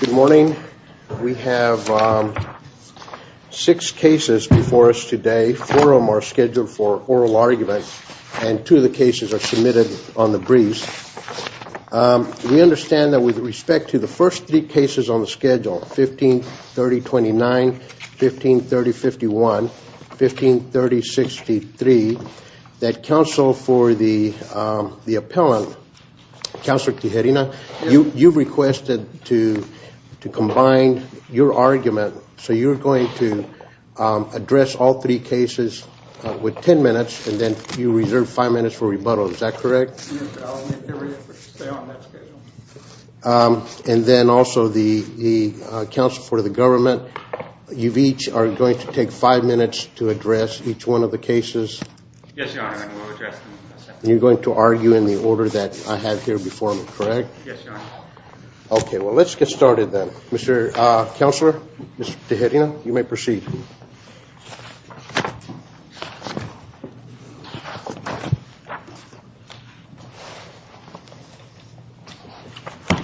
Good morning. We have six cases before us today. Four of them are scheduled for oral argument and two of the cases are submitted on the briefs. We understand that with respect to the first three cases on the schedule, 15, 30, 29, 15, 30, 51, 15, 30, 63, that counsel for the appellant, Counselor Tijerina, you requested to combine your argument, so you're going to address all three cases with ten minutes and then you reserve five minutes for rebuttal. Is that correct? Yes, I'll make every effort to stay on that schedule. And then also the counsel for the government, you each are going to take five minutes to address each one of the cases. Yes, Your Honor, I will address them in a second. You're going to argue in the order that I have here before me, correct? Yes, Your Honor. Okay, well let's get started then. Mr. Counselor, Mr. Tijerina, you may proceed.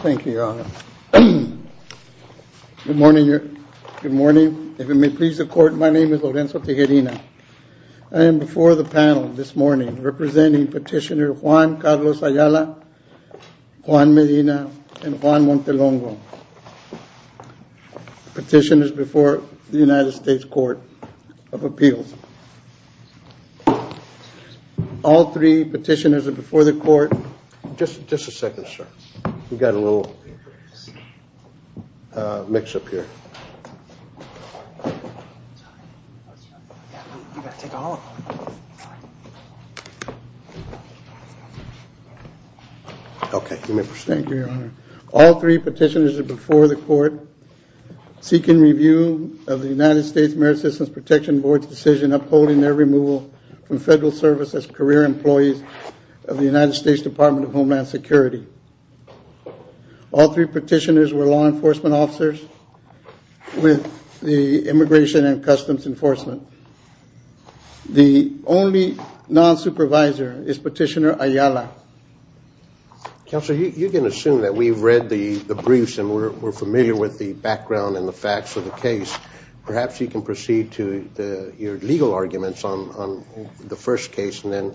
Thank you, Your Honor. Good morning. If it may please the court, my name is Lorenzo Tijerina. I am before the panel this morning representing Petitioner Juan Carlos Ayala, Juan Medina, and Juan Montelongo. Petitioners before the United States Court of Appeals. All three petitioners are before the court. Just a second, sir. We've got a little mix-up here. You've got to take all of them. Okay, you may proceed. Thank you, Your Honor. All three petitioners are before the court seeking review of the United States Merit Systems Protection Board's decision upholding their removal from federal service as career employees of the United States Department of Homeland Security. All three petitioners were law enforcement officers with the Immigration and Customs Enforcement. The only non-supervisor is Petitioner Ayala. Counselor, you can assume that we've read the briefs and we're familiar with the background and the facts of the case. Perhaps you can proceed to your legal arguments on the first case and then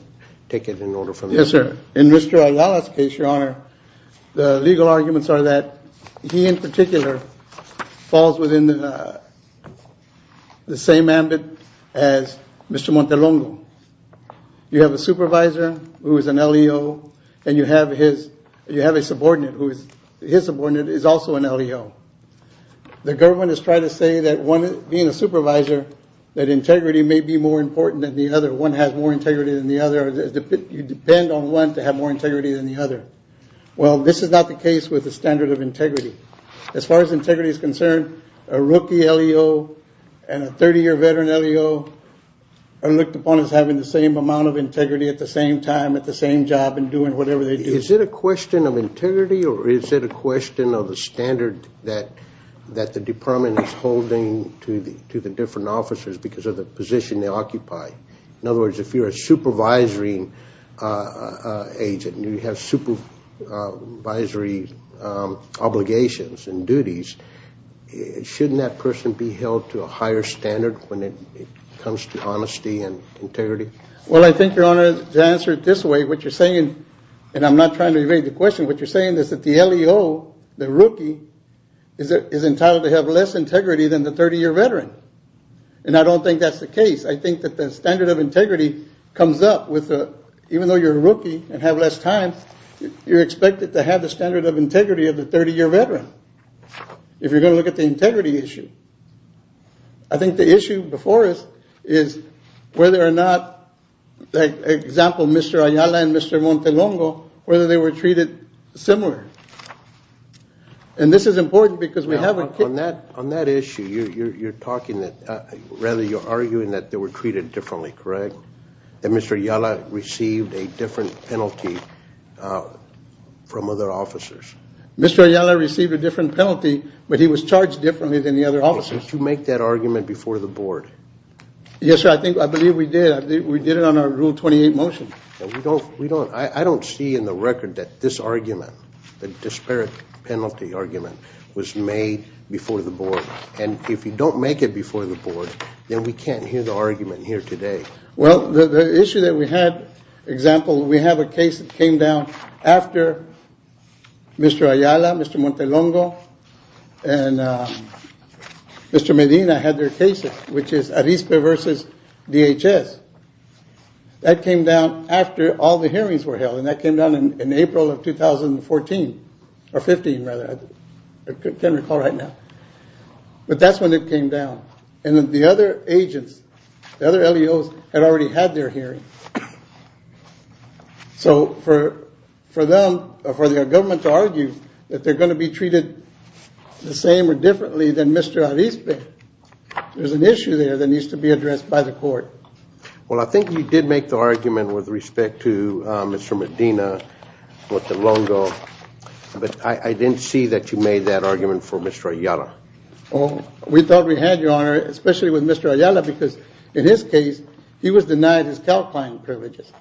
take it in order from there. Yes, sir. In Mr. Ayala's case, Your Honor, the legal arguments are that he in particular falls within the same ambit as Mr. Montelongo. You have a supervisor who is an LEO and you have a subordinate who is also an LEO. The government is trying to say that being a supervisor, that integrity may be more important than the other. One has more integrity than the other. You depend on one to have more integrity than the other. Well, this is not the case with the standard of integrity. As far as integrity is concerned, a rookie LEO and a 30-year veteran LEO are looked upon as having the same amount of integrity at the same time at the same job and doing whatever they do. Is it a question of integrity or is it a question of the standard that the department is holding to the different officers because of the position they occupy? In other words, if you're a supervisory agent and you have supervisory obligations and duties, shouldn't that person be held to a higher standard when it comes to honesty and integrity? Well, I think, Your Honor, to answer it this way, what you're saying, and I'm not trying to evade the question, what you're saying is that the LEO, the rookie, is entitled to have less integrity than the 30-year veteran. And I don't think that's the case. I think that the standard of integrity comes up with the, even though you're a rookie and have less time, you're expected to have the standard of integrity of the 30-year veteran if you're going to look at the integrity issue. I think the issue before us is whether or not, like example, Mr. Ayala and Mr. Montelongo, whether they were treated similar. And this is important because we have a... On that issue, you're arguing that they were treated differently, correct? That Mr. Ayala received a different penalty from other officers? Mr. Ayala received a different penalty, but he was charged differently than the other officers. Did you make that argument before the board? Yes, sir, I believe we did. We did it on our Rule 28 motion. I don't see in the record that this argument, the disparate penalty argument, was made before the board. And if you don't make it before the board, then we can't hear the argument here today. Well, the issue that we had, example, we have a case that came down after Mr. Ayala, Mr. Montelongo, and Mr. Medina had their cases, which is ARISPE versus DHS. That came down after all the hearings were held, and that came down in April of 2014, or 15 rather, I can't recall right now. But that's when it came down. And the other agents, the other LEOs had already had their hearings. So for them, for their government to argue that they're going to be treated the same or differently than Mr. ARISPE, there's an issue there that needs to be addressed by the court. Well, I think you did make the argument with respect to Mr. Medina, Montelongo, but I didn't see that you made that argument for Mr. Ayala. Oh, we thought we had, Your Honor, especially with Mr. Ayala, because in his case, he was denied his CALCLINE privileges,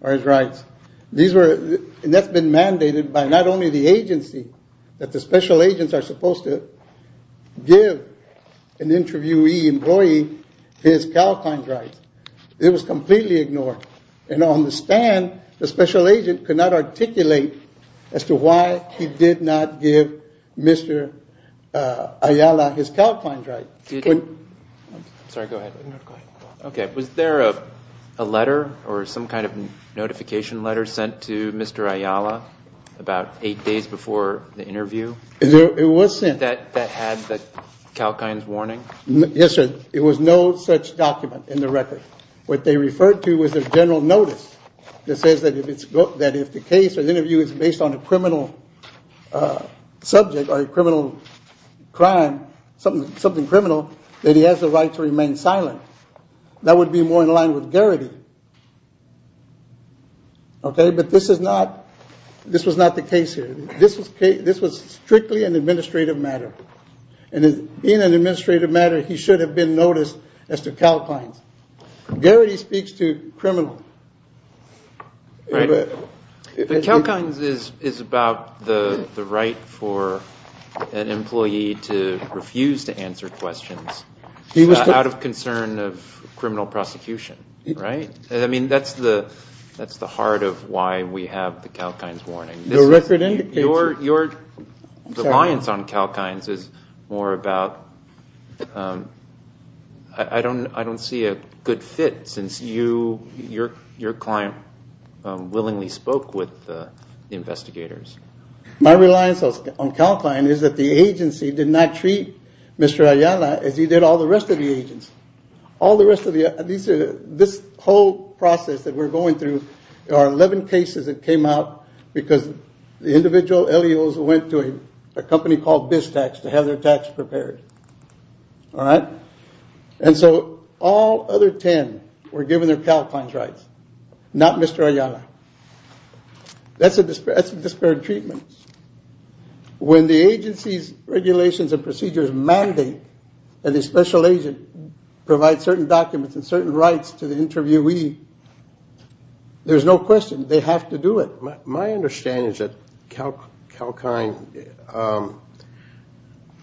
or his rights. And that's been mandated by not only the agency, that the special agents are supposed to give an interviewee employee his CALCLINE rights. It was completely ignored. And on the stand, the special agent could not articulate as to why he did not give Mr. Ayala his CALCLINE rights. I'm sorry, go ahead. Okay, was there a letter or some kind of notification letter sent to Mr. Ayala about eight days before the interview? It was sent. That had the CALCLINE warning? Yes, sir. It was no such document in the record. What they referred to was a general notice that says that if the case or the interview is based on a criminal subject or a criminal crime, something criminal, that he has the right to remain silent. That would be more in line with Garrity. Okay, but this was not the case here. This was strictly an administrative matter. And in an administrative matter, he should have been noticed as to CALCLINE. Garrity speaks to criminal. The CALCLINE is about the right for an employee to refuse to answer questions out of concern of criminal prosecution, right? I mean, that's the heart of why we have the CALCLINE warning. Your record indicates it. Your reliance on CALCLINE is more about, I don't see a good fit since your client willingly spoke with the investigators. My reliance on CALCLINE is that the agency did not treat Mr. Ayala as he did all the rest of the agents. This whole process that we're going through, there are 11 cases that came out because the individual LEOs went to a company called Biztax to have their tax prepared. All right? And so all other 10 were given their CALCLINE rights. Not Mr. Ayala. That's a disparate treatment. When the agency's regulations and procedures mandate that a special agent provide certain documents and certain rights to the interviewee, there's no question they have to do it. My understanding is that CALCLINE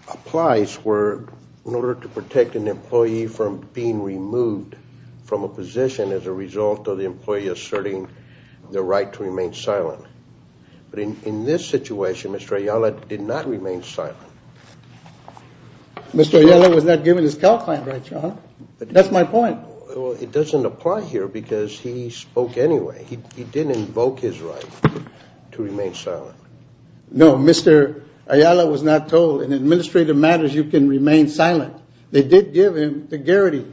applies where, in order to protect an employee from being removed from a position as a result of the employee asserting their right to remain silent. But in this situation, Mr. Ayala did not remain silent. Mr. Ayala was not given his CALCLINE rights, huh? That's my point. It doesn't apply here because he spoke anyway. He didn't invoke his right to remain silent. No, Mr. Ayala was not told, in administrative matters you can remain silent. They did give him the Garrity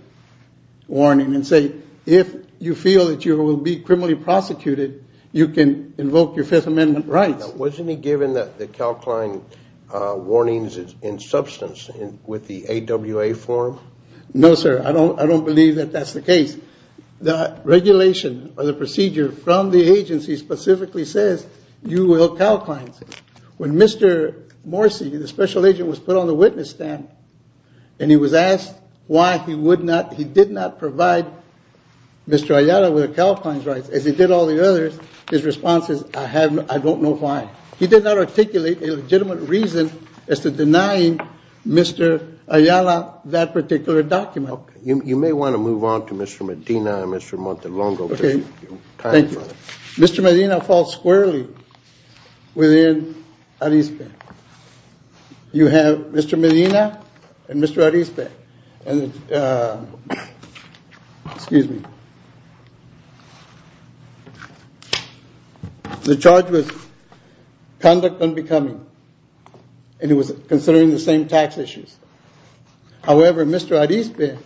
warning and say, if you feel that you will be criminally prosecuted, you can invoke your Fifth Amendment rights. Wasn't he given the CALCLINE warnings in substance with the AWA form? No, sir. I don't believe that that's the case. The regulation or the procedure from the agency specifically says you will CALCLINE. When Mr. Morsi, the special agent, was put on the witness stand and he was asked why he did not provide Mr. Ayala with CALCLINE rights as he did all the others, his response is, I don't know why. He did not articulate a legitimate reason as to denying Mr. Ayala that particular document. You may want to move on to Mr. Medina and Mr. Montelongo. Mr. Medina falls squarely within ARISPE. You have Mr. Medina and Mr. ARISPE. The charge was conduct unbecoming and it was considering the same tax issues. However, Mr. ARISPE,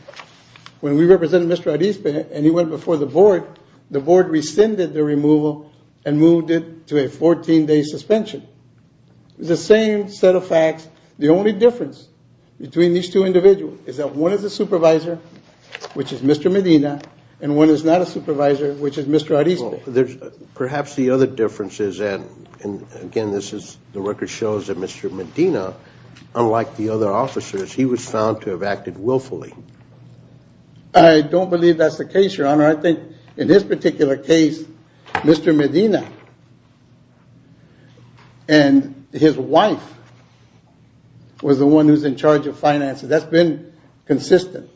when we represented Mr. ARISPE and he went before the board, the board rescinded the removal and moved it to a 14-day suspension. The same set of facts. The only difference between these two individuals is that one is a supervisor, which is Mr. Medina, and one is not a supervisor, which is Mr. ARISPE. Perhaps the other difference is that, again, the record shows that Mr. Medina, unlike the other officers, he was found to have acted willfully. I don't believe that's the case, Your Honor. I think in this particular case, Mr. Medina and his wife was the one who's in charge of finances. That's been consistent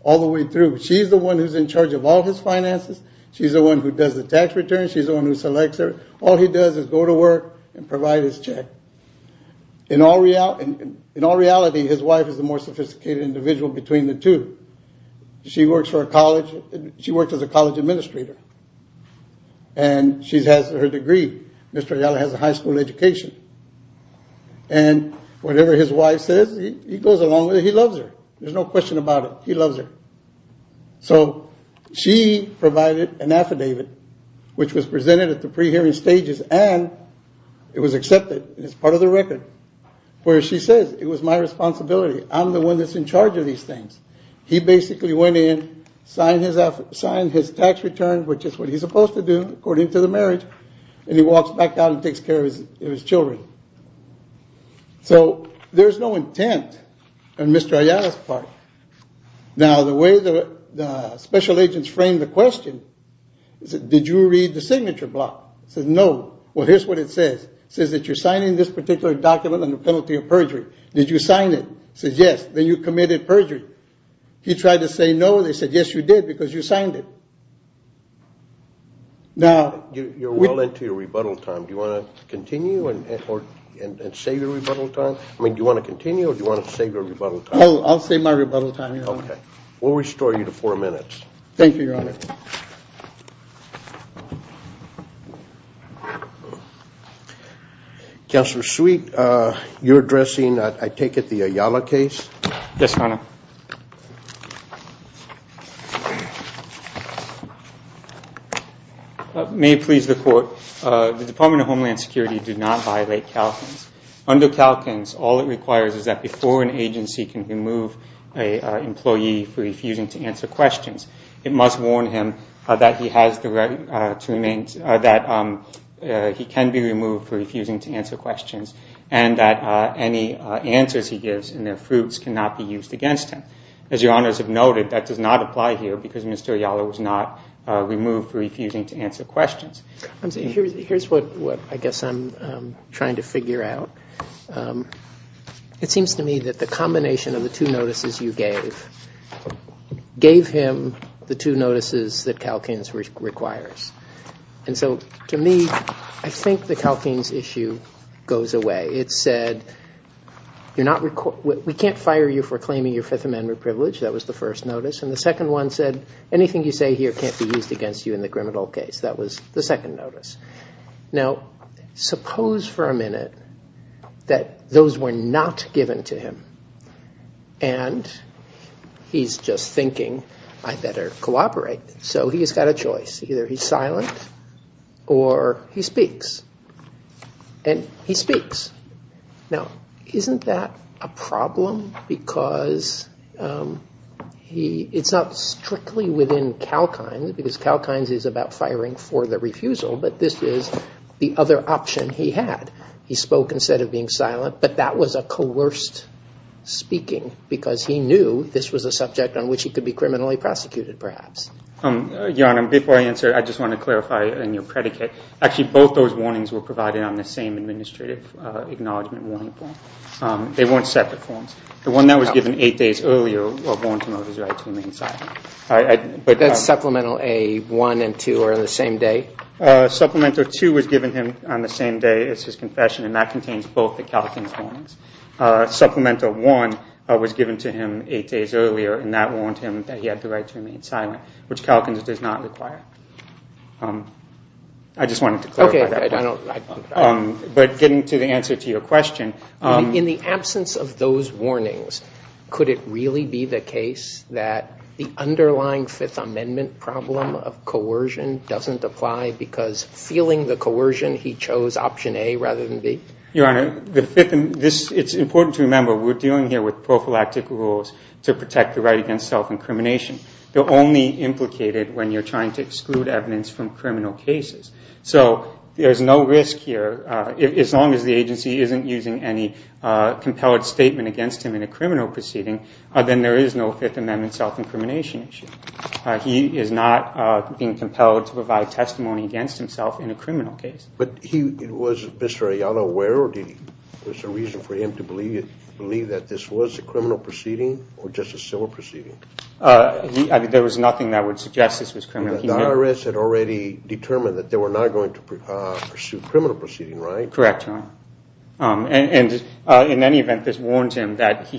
all the way through. She's the one who's in charge of all his finances. She's the one who does the tax returns. She's the one who selects her. All he does is go to work and provide his check. In all reality, his wife is the more sophisticated individual between the two. She works for a college. She works as a college administrator. She has her degree. Mr. Ayala has a high school education. Whatever his wife says, he goes along with it. He loves her. There's no question about it. He loves her. She provided an affidavit, which was presented at the pre-hearing stages, and it was accepted as part of the record, where she says, it was my responsibility. I'm the one that's in charge of these things. He basically went in, signed his tax return, which is what he's supposed to do according to the marriage, and he walks back out and takes care of his children. There's no intent on Mr. Ayala's part. The way the special agents framed the question is, did you read the signature block? It says, no. Well, here's what it says. It says that you're signing this particular document on the penalty of perjury. Did you sign it? It says, yes. Then you committed perjury. He tried to say, no. They said, yes, you did, because you signed it. You're well into your rebuttal time. Do you want to continue and save your rebuttal time? Do you want to continue or do you want to save your rebuttal time? I'll save my rebuttal time, Your Honor. We'll restore you to four minutes. Thank you, Your Honor. Counselor Sweet, you're addressing, I take it, the Ayala case? Yes, Your Honor. May it please the Court, the Department of Homeland Security did not violate Calkins. Under Calkins, all it requires is that before an agency can remove an employee for refusing to answer questions, it must warn him that he has the right to remain, that he can be removed for refusing to answer questions, and that any answers he gives in their fruits cannot be used against him. As Your Honors have noted, that does not apply here because Mr. Ayala was not removed for refusing to answer questions. Here's what I guess I'm trying to figure out. It seems to me that the combination of the two notices you gave gave him the two notices that Calkins requires. And so to me, I think the Calkins issue goes away. It said, we can't fire you for claiming your Fifth Amendment privilege. That was the first notice. And the second one said, anything you say here can't be used against you in the criminal case. That was the second notice. Now, suppose for a minute that those were not given to him and he's just thinking, I better cooperate. So he's got a choice. Either he's silent or he speaks. And he speaks. Now, isn't that a problem? Because it's not strictly within Calkins, because Calkins is about firing for the refusal, but this is the other option he had. He spoke instead of being silent, but that was a coerced speaking because he knew this was a subject on which he could be criminally prosecuted, perhaps. Your Honor, before I answer, I just want to clarify in your predicate. Actually, both those warnings were provided on the same Administrative Acknowledgement Warning form. They weren't separate forms. The one that was given eight days earlier warned him of his right to remain silent. But that's Supplemental A1 and 2 are on the same day? Supplemental 2 was given him on the same day as his confession and that contains both the Calkins warnings. Supplemental 1 was given to him eight days earlier and that warned him that he had the right to remain silent. Which Calkins does not require. I just wanted to clarify that. But getting to the answer to your question. In the absence of those warnings, could it really be the case that the underlying Fifth Amendment problem of coercion doesn't apply because feeling the coercion, he chose option A rather than B? Your Honor, it's important to remember we're dealing here with prophylactic rules to protect the right against self-incrimination. They're only implicated when you're trying to exclude evidence from criminal cases. So there's no risk here. As long as the agency isn't using any compelled statement against him in a criminal proceeding, then there is no Fifth Amendment self-incrimination issue. He is not being compelled to provide testimony against himself in a criminal case. But was Mr. Ayala aware? Or was there a reason for him to believe that this was a criminal proceeding or just a civil proceeding? There was nothing that would suggest this was criminal. The IRS had already determined that they were not going to pursue a criminal proceeding, right? Correct, Your Honor. In any event, this warned him that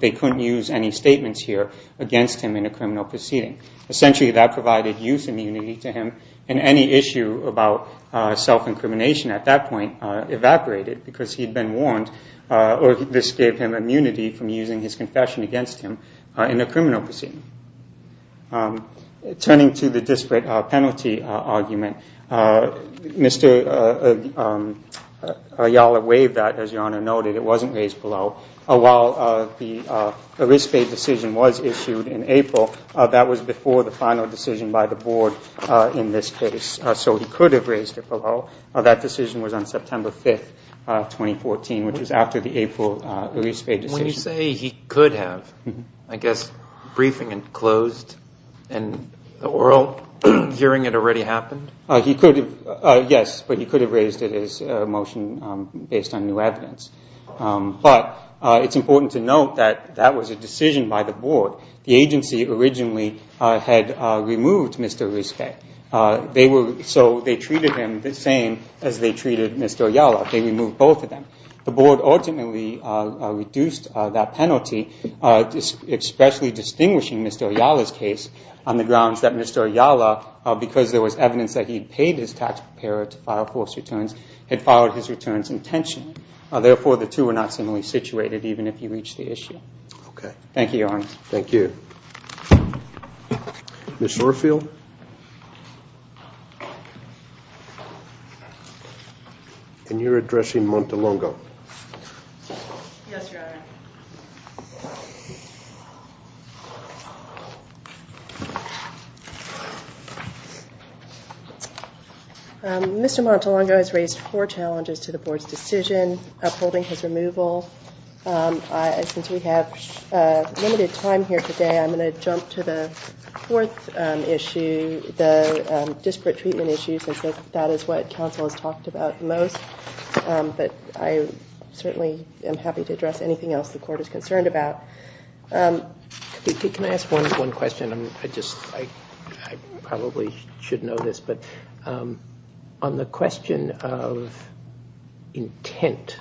they couldn't use any statements here against him in a criminal proceeding. Essentially, that provided youth immunity to him. And any issue about self-incrimination at that point evaporated because he'd been warned. This gave him immunity from using his confession against him in a criminal proceeding. Turning to the disparate penalty argument, Mr. Ayala waived that, as Your Honor noted. It wasn't raised below. While the arispe decision was issued in April, that was before the final decision by the board in this case. So he could have raised it below. That decision was on September 5, 2014, which was after the April arispe decision. Would you say he could have, I guess, briefing and closed in the oral hearing it already happened? He could have, yes. But he could have raised it as a motion based on new evidence. But it's important to note that that was a decision by the board. The agency originally had removed Mr. Arispe. So they treated him the same as they treated Mr. Ayala. They removed both of them. The board ultimately reduced that penalty, especially distinguishing Mr. Ayala's case on the grounds that Mr. Ayala, because there was evidence that he paid his tax preparer to file false returns, had filed his returns intentionally. Therefore, the two were not similarly situated even if he reached the issue. Thank you, Your Honor. Thank you. Ms. Schorfield? And you're addressing Montelongo? Yes, Your Honor. Mr. Montelongo has raised four challenges to the board's decision upholding his removal. Since we have limited time here today, I'm going to jump to the fourth issue. I'm going to jump to the disparate treatment issues since that is what counsel has talked about most. But I certainly am happy to address anything else the court is concerned about. Can I ask one question? I probably should know this, but on the question of intent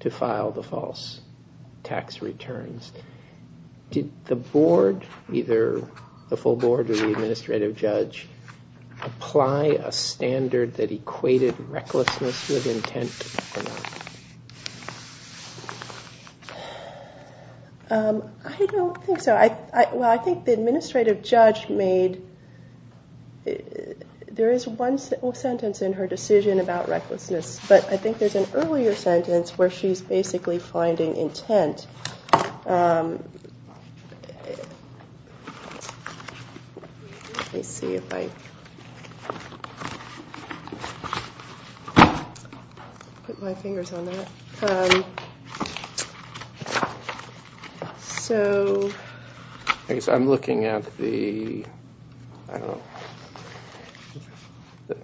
to file the false tax returns, did the board, either the full board or the administrative judge, apply a standard that equated recklessness with intent or not? I don't think so. Well, I think the administrative judge made, there is one sentence in her decision about recklessness, but I think there's an earlier sentence where she's basically finding intent Let me see if I put my fingers on that. I guess I'm looking at the I don't know,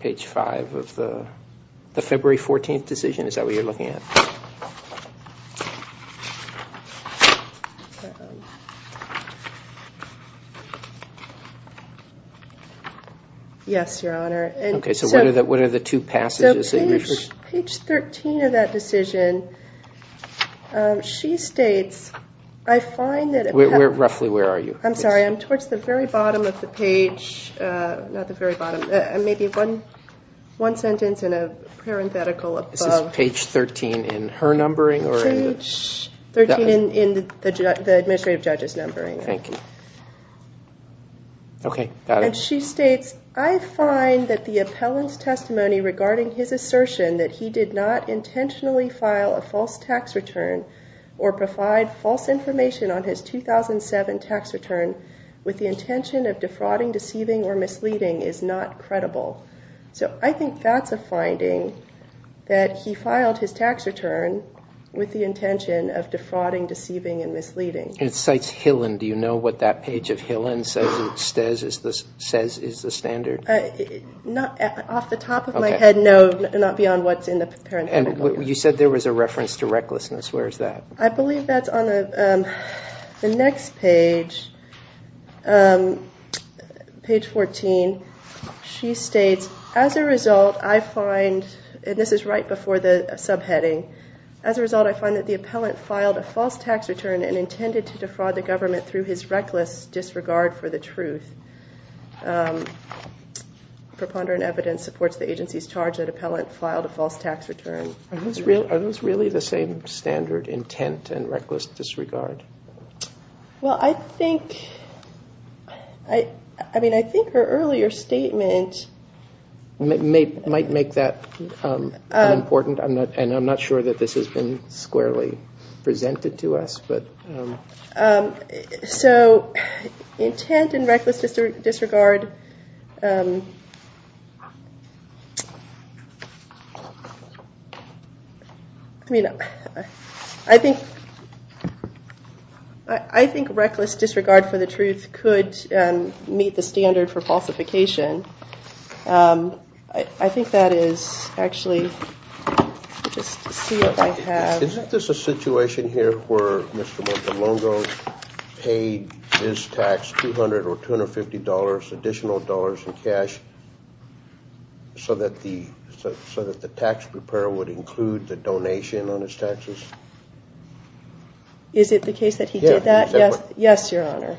page five of the February 14th decision. Is that what you're looking at? Yes, Your Honor. Okay, so what are the two passages? So page 13 of that decision, she states, I find that Roughly where are you? I'm sorry, I'm towards the very bottom of the page, not the very bottom, maybe one sentence in a parenthetical above. Is that page 13 in her numbering? Page 13 in the administrative judge's numbering. Thank you. And she states, I find that the appellant's testimony regarding his assertion that he did not intentionally file a false tax return or provide false information on his 2007 tax return with the intention of defrauding, deceiving or misleading is not credible. So I think that's a finding that he filed his tax return with the intention of defrauding, deceiving and misleading. It cites Hillen. Do you know what that page of Hillen says is the standard? Off the top of my head, no. Not beyond what's in the parenthetical. You said there was a reference to recklessness. Where is that? I believe that's on the next page, page 14. She states, as a result, I find, and this is right before the subheading, as a result, I find that the appellant filed a false tax return and intended to defraud the government through his reckless disregard for the truth. Preponderant evidence supports the agency's charge that the appellant filed a false tax return. Are those really the same standard intent and reckless disregard? Well, I think her earlier statement might make that unimportant, and I'm not sure that this has been squarely presented to us. So intent and reckless disregard I mean, I think I think reckless disregard for the truth could meet the standard for falsification. I think that is actually Is this a situation here where Mr. Montelongo paid his tax $200 or $250 additional in cash so that the tax preparer would include the donation on his taxes? Is it the case that he did that? Yes, Your Honor.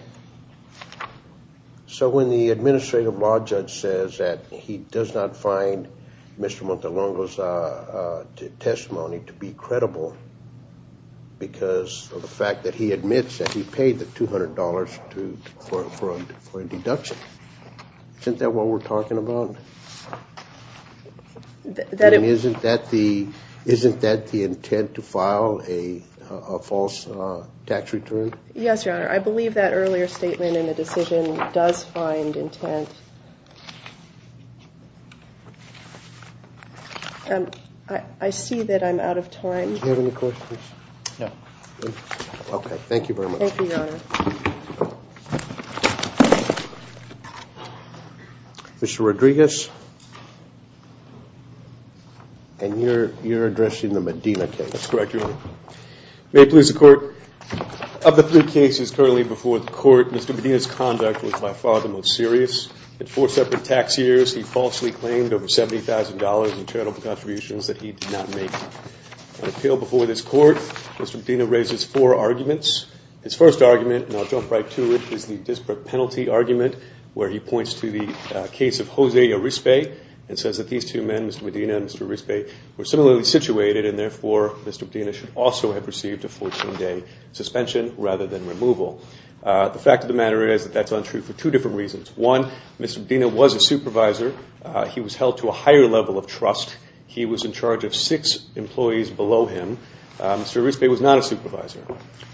So when the administrative law judge says that he does not find Mr. Montelongo's testimony to be credible because of the fact that he admits that he paid the $200 for a deduction. Isn't that what we're talking about? And isn't that the intent to file a false tax return? Yes, Your Honor. I believe that earlier statement in the decision does find intent. I see that I'm out of time. Do you have any questions? No. Okay, thank you very much. Thank you, Your Honor. Mr. Rodriguez and you're addressing the Medina case. That's correct, Your Honor. May it please the Court Of the three cases currently before the Court, Mr. Medina's conduct was by far the most serious. At four separate tax years, he falsely claimed over $70,000 in charitable contributions that he did not make. On appeal before this Court, Mr. Medina raises four arguments. His first argument, and I'll jump right to it, is the disparate penalty argument where he points to the case of Jose Yarispe and says that these two men, Mr. Medina and Mr. Yarispe, were similarly situated and therefore Mr. Medina should also have received a 14-day suspension rather than removal. The fact of the matter is that that's untrue for two different reasons. One, Mr. Medina was a supervisor. He was held to a higher level of trust. He was in charge of six employees below him. Mr. Yarispe was not a supervisor.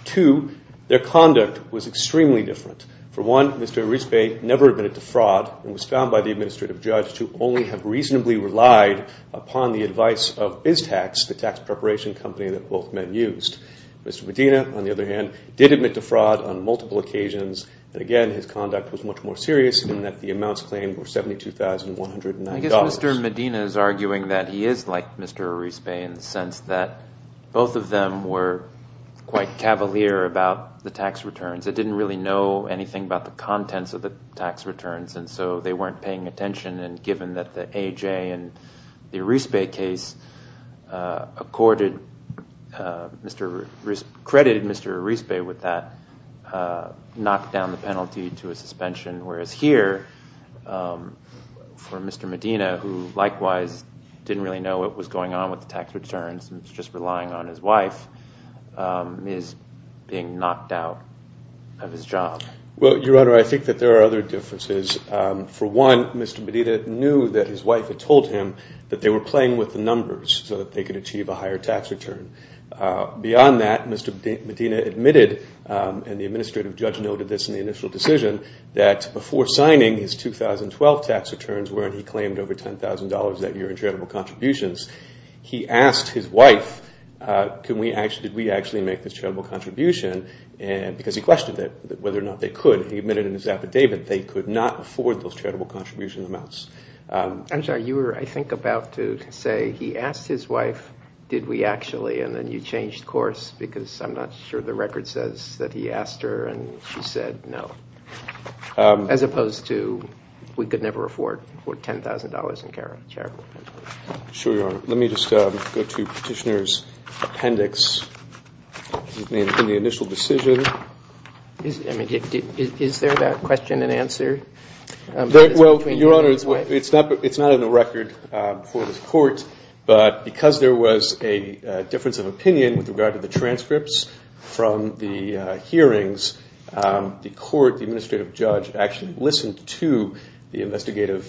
Two, their conduct was extremely different. For one, Mr. Yarispe never admitted to fraud and was found by the administrative judge to only have reasonably relied upon the advice of Iztax, the tax preparation company that both men used. Mr. Medina, on the other hand, did admit to fraud on multiple occasions, and again, his conduct was much more serious in that the amounts claimed were $72,190. I guess Mr. Medina is arguing that he is like Mr. Yarispe in the sense that both of them were quite cavalier about the tax returns. They didn't really know anything about the contents of the tax returns, and so they weren't paying attention, and given that the AJ and the Yarispe case credited Mr. Yarispe with that knock down the penalty to a suspension, whereas here for Mr. Medina, who likewise didn't really know what was going on with the tax returns and was just relying on his wife, is being knocked out of his job. Well, Your Honor, I think that there are other differences. For one, Mr. Medina knew that his wife had told him that they were playing with the numbers so that they could achieve a higher tax return. Beyond that, Mr. Medina admitted and the administrative judge noted this in the initial decision that before signing his 2012 tax returns where he claimed over $10,000 that year in charitable contributions, he asked his wife did we actually make this charitable contribution because he questioned whether or not they could. He admitted in his affidavit that they could not afford those charitable contribution amounts. I'm sorry, you were I think about to say he asked his wife did we actually, and then he changed course because I'm not sure the record says that he asked her and she said no. As opposed to we could never afford $10,000 in charitable contributions. Let me just go to Petitioner's appendix in the initial decision. Is there that question and answer? It's not in the record for the court but because there was a difference of opinion with regard to the transcripts from the hearings, the court, the administrative judge actually listened to the investigative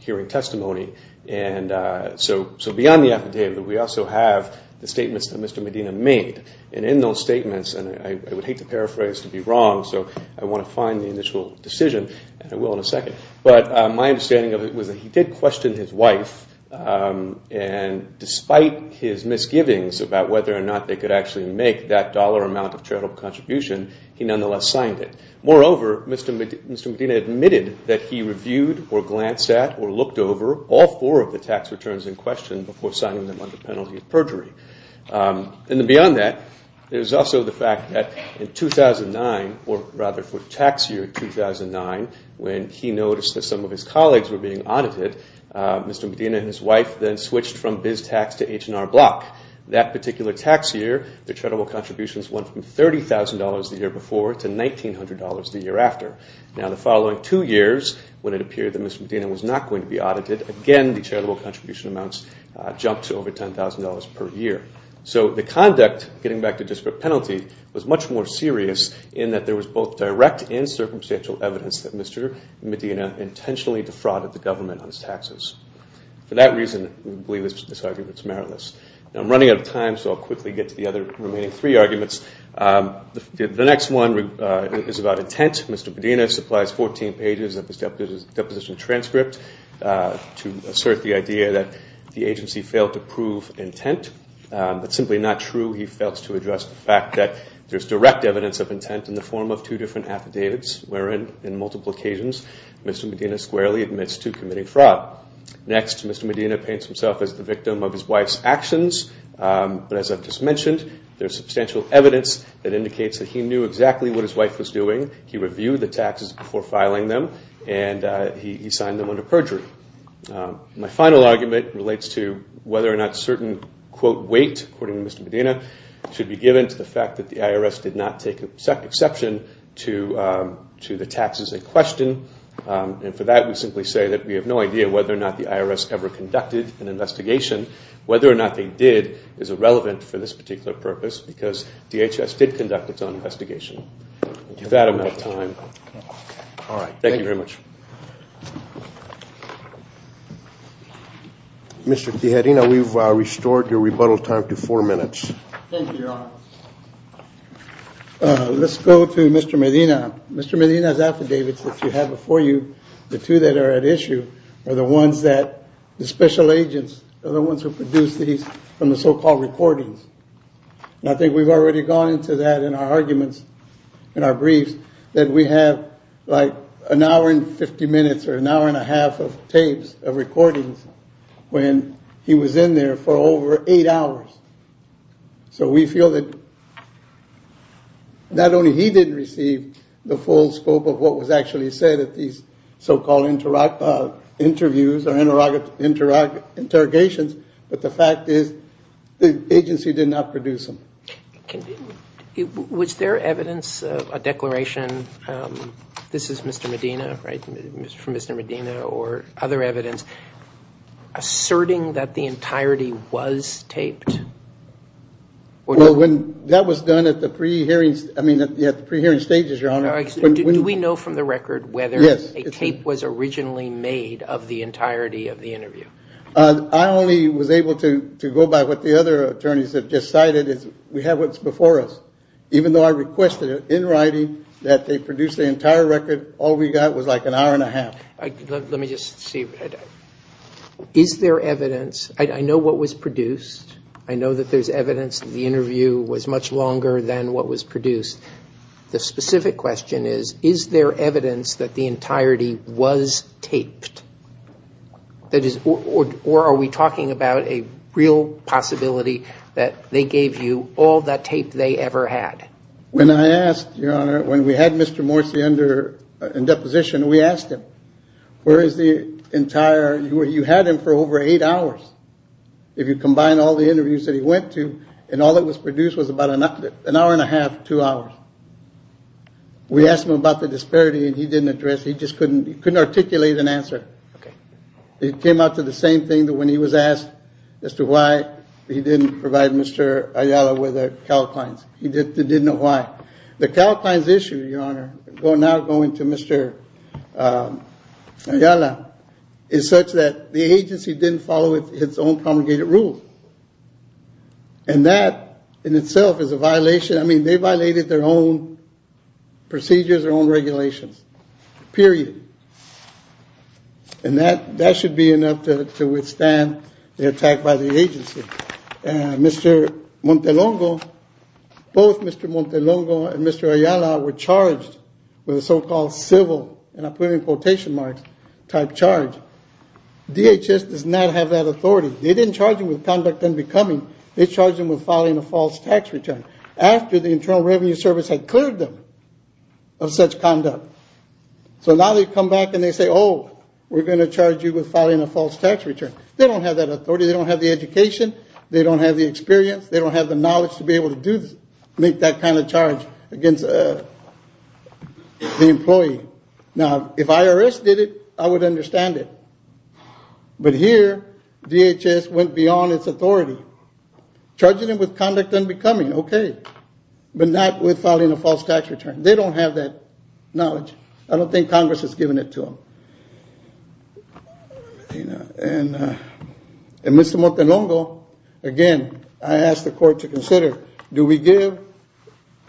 hearing testimony. Beyond the affidavit, we also have the statements that Mr. Medina made and in those statements, and I would hate to paraphrase to be wrong, so I want to find the initial decision and I will in a second, but my understanding of it was that he did question his wife and despite his misgivings about whether or not they could actually make that dollar amount of charitable contribution he nonetheless signed it. Moreover, Mr. Medina admitted that he reviewed or glanced at or looked over all four of the tax returns in question before signing them under penalty of perjury. Beyond that, there's also the fact that in 2009, or rather for tax year 2009 when he noticed that some of his colleagues were being audited Mr. Medina and his wife then switched from BizTax to H&R Block. That particular tax year their charitable contributions went from $30,000 the year before to $1,900 the year after. Now the following two years, when it appeared that Mr. Medina was not going to be audited, again the charitable contribution amounts jumped to over $10,000 per year. So the conduct getting back to disparate penalty was much more serious in that there was both direct and circumstantial evidence that Mr. Medina intentionally defrauded the government on his taxes. For that reason, we believe this argument is meritless. Now I'm running out of time, so I'll quickly get to the other remaining three arguments. The next one is about intent. Mr. Medina supplies 14 pages of his deposition transcript to assert the idea that the agency failed to prove intent. That's simply not true. He fails to address the fact that there's direct evidence of intent in the form of two different affidavits wherein, in multiple occasions, Mr. Medina squarely admits to committing fraud. Next, Mr. Medina paints himself as the victim of his wife's actions, but as I've just mentioned there's substantial evidence that indicates that he knew exactly what his wife was doing. He reviewed the taxes before filing them and he signed them under perjury. My final argument relates to whether or not certain, quote, weight, according to Mr. Medina should be given to the fact that the IRS did not take exception to the taxes in question. And for that, we simply say that we have no idea whether or not the IRS ever conducted an investigation. Whether or not they did is irrelevant for this particular purpose because DHS did conduct its own investigation. I'm running out of time. Thank you very much. Mr. Tijerina, we've restored your rebuttal time to four minutes. Thank you, Your Honor. Let's go to Mr. Medina. Mr. Medina's affidavits that you have before you, the two that are at issue are the ones that the special agents are the ones who produced these from the so-called recordings. I think we've already gone into that in our arguments in our briefs, that we have like an hour and 50 minutes or an hour and a half of tapes of recordings when he was in there for over eight hours. So we feel that not only he didn't receive the full scope of what was actually said at these so-called interviews or interrogations, but the fact is the agency did not produce them. Was there evidence, a declaration, this is from Mr. Medina or other evidence, asserting that the entirety was taped? That was done at the pre-hearing stages, Your Honor. Do we know from the record whether a tape was originally made of the entirety of the interview? I only was able to go by what the other attorneys have just cited we have what's before us, even though I requested in writing that they produce the entire record, all we got was like an hour and a half. Let me just see, is there evidence I know what was produced, I know that there's evidence the interview was much longer than what was produced. The specific question is, is there evidence that the entirety was taped? Or are we talking about a real possibility that they gave you all that tape they ever had? When we had Mr. Morsi in deposition we asked him, you had him for over eight hours if you combine all the interviews that he went to and all that was produced was about an hour and a half to two hours. We asked him about the disparity and he didn't address it. He just couldn't articulate an answer. It came out to the same thing that when he was asked as to why he didn't provide Mr. Ayala with the calcines, he didn't know why. The calcines issue your honor, now going to Mr. Ayala is such that the agency didn't follow its own congregated rules. And that in itself is a violation, I mean they violated their own procedures, their own regulations. Period. And that should be enough to withstand the attack by the agency. Mr. Montelongo, both Mr. Montelongo and Mr. Ayala were charged with a so-called civil, and I'm putting quotation marks, type charge. DHS does not have that authority. They didn't charge them with conduct unbecoming, they charged them with filing a false tax return after the Internal Revenue Service had cleared them of such conduct. So now they come back and they say, oh, we're going to charge you with filing a false tax return. They don't have that authority, they don't have the education, they don't have the experience, they don't have the knowledge to be able to make that kind of charge against the employee. Now, if IRS did it, I would understand it. But here, DHS went beyond its authority. Charging them with conduct unbecoming, okay. But not with filing a false tax return. They don't have that knowledge. I don't think Congress has given it to them. And Mr. Montelongo, again, I ask the court to consider, do we give?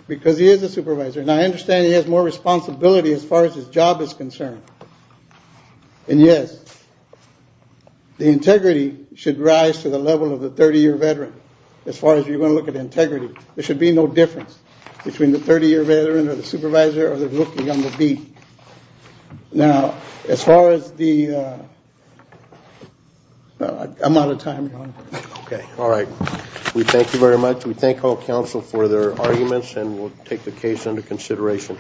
Because he is a supervisor, and I understand he has more responsibility as far as his job is concerned. And yes, the 30-year veteran, as far as you're going to look at integrity. There should be no difference between the 30-year veteran or the supervisor or the rookie on the beat. Now, as far as the I'm out of time, Your Honor. Okay, all right. We thank you very much. We thank all counsel for their arguments, and we'll take the case under consideration.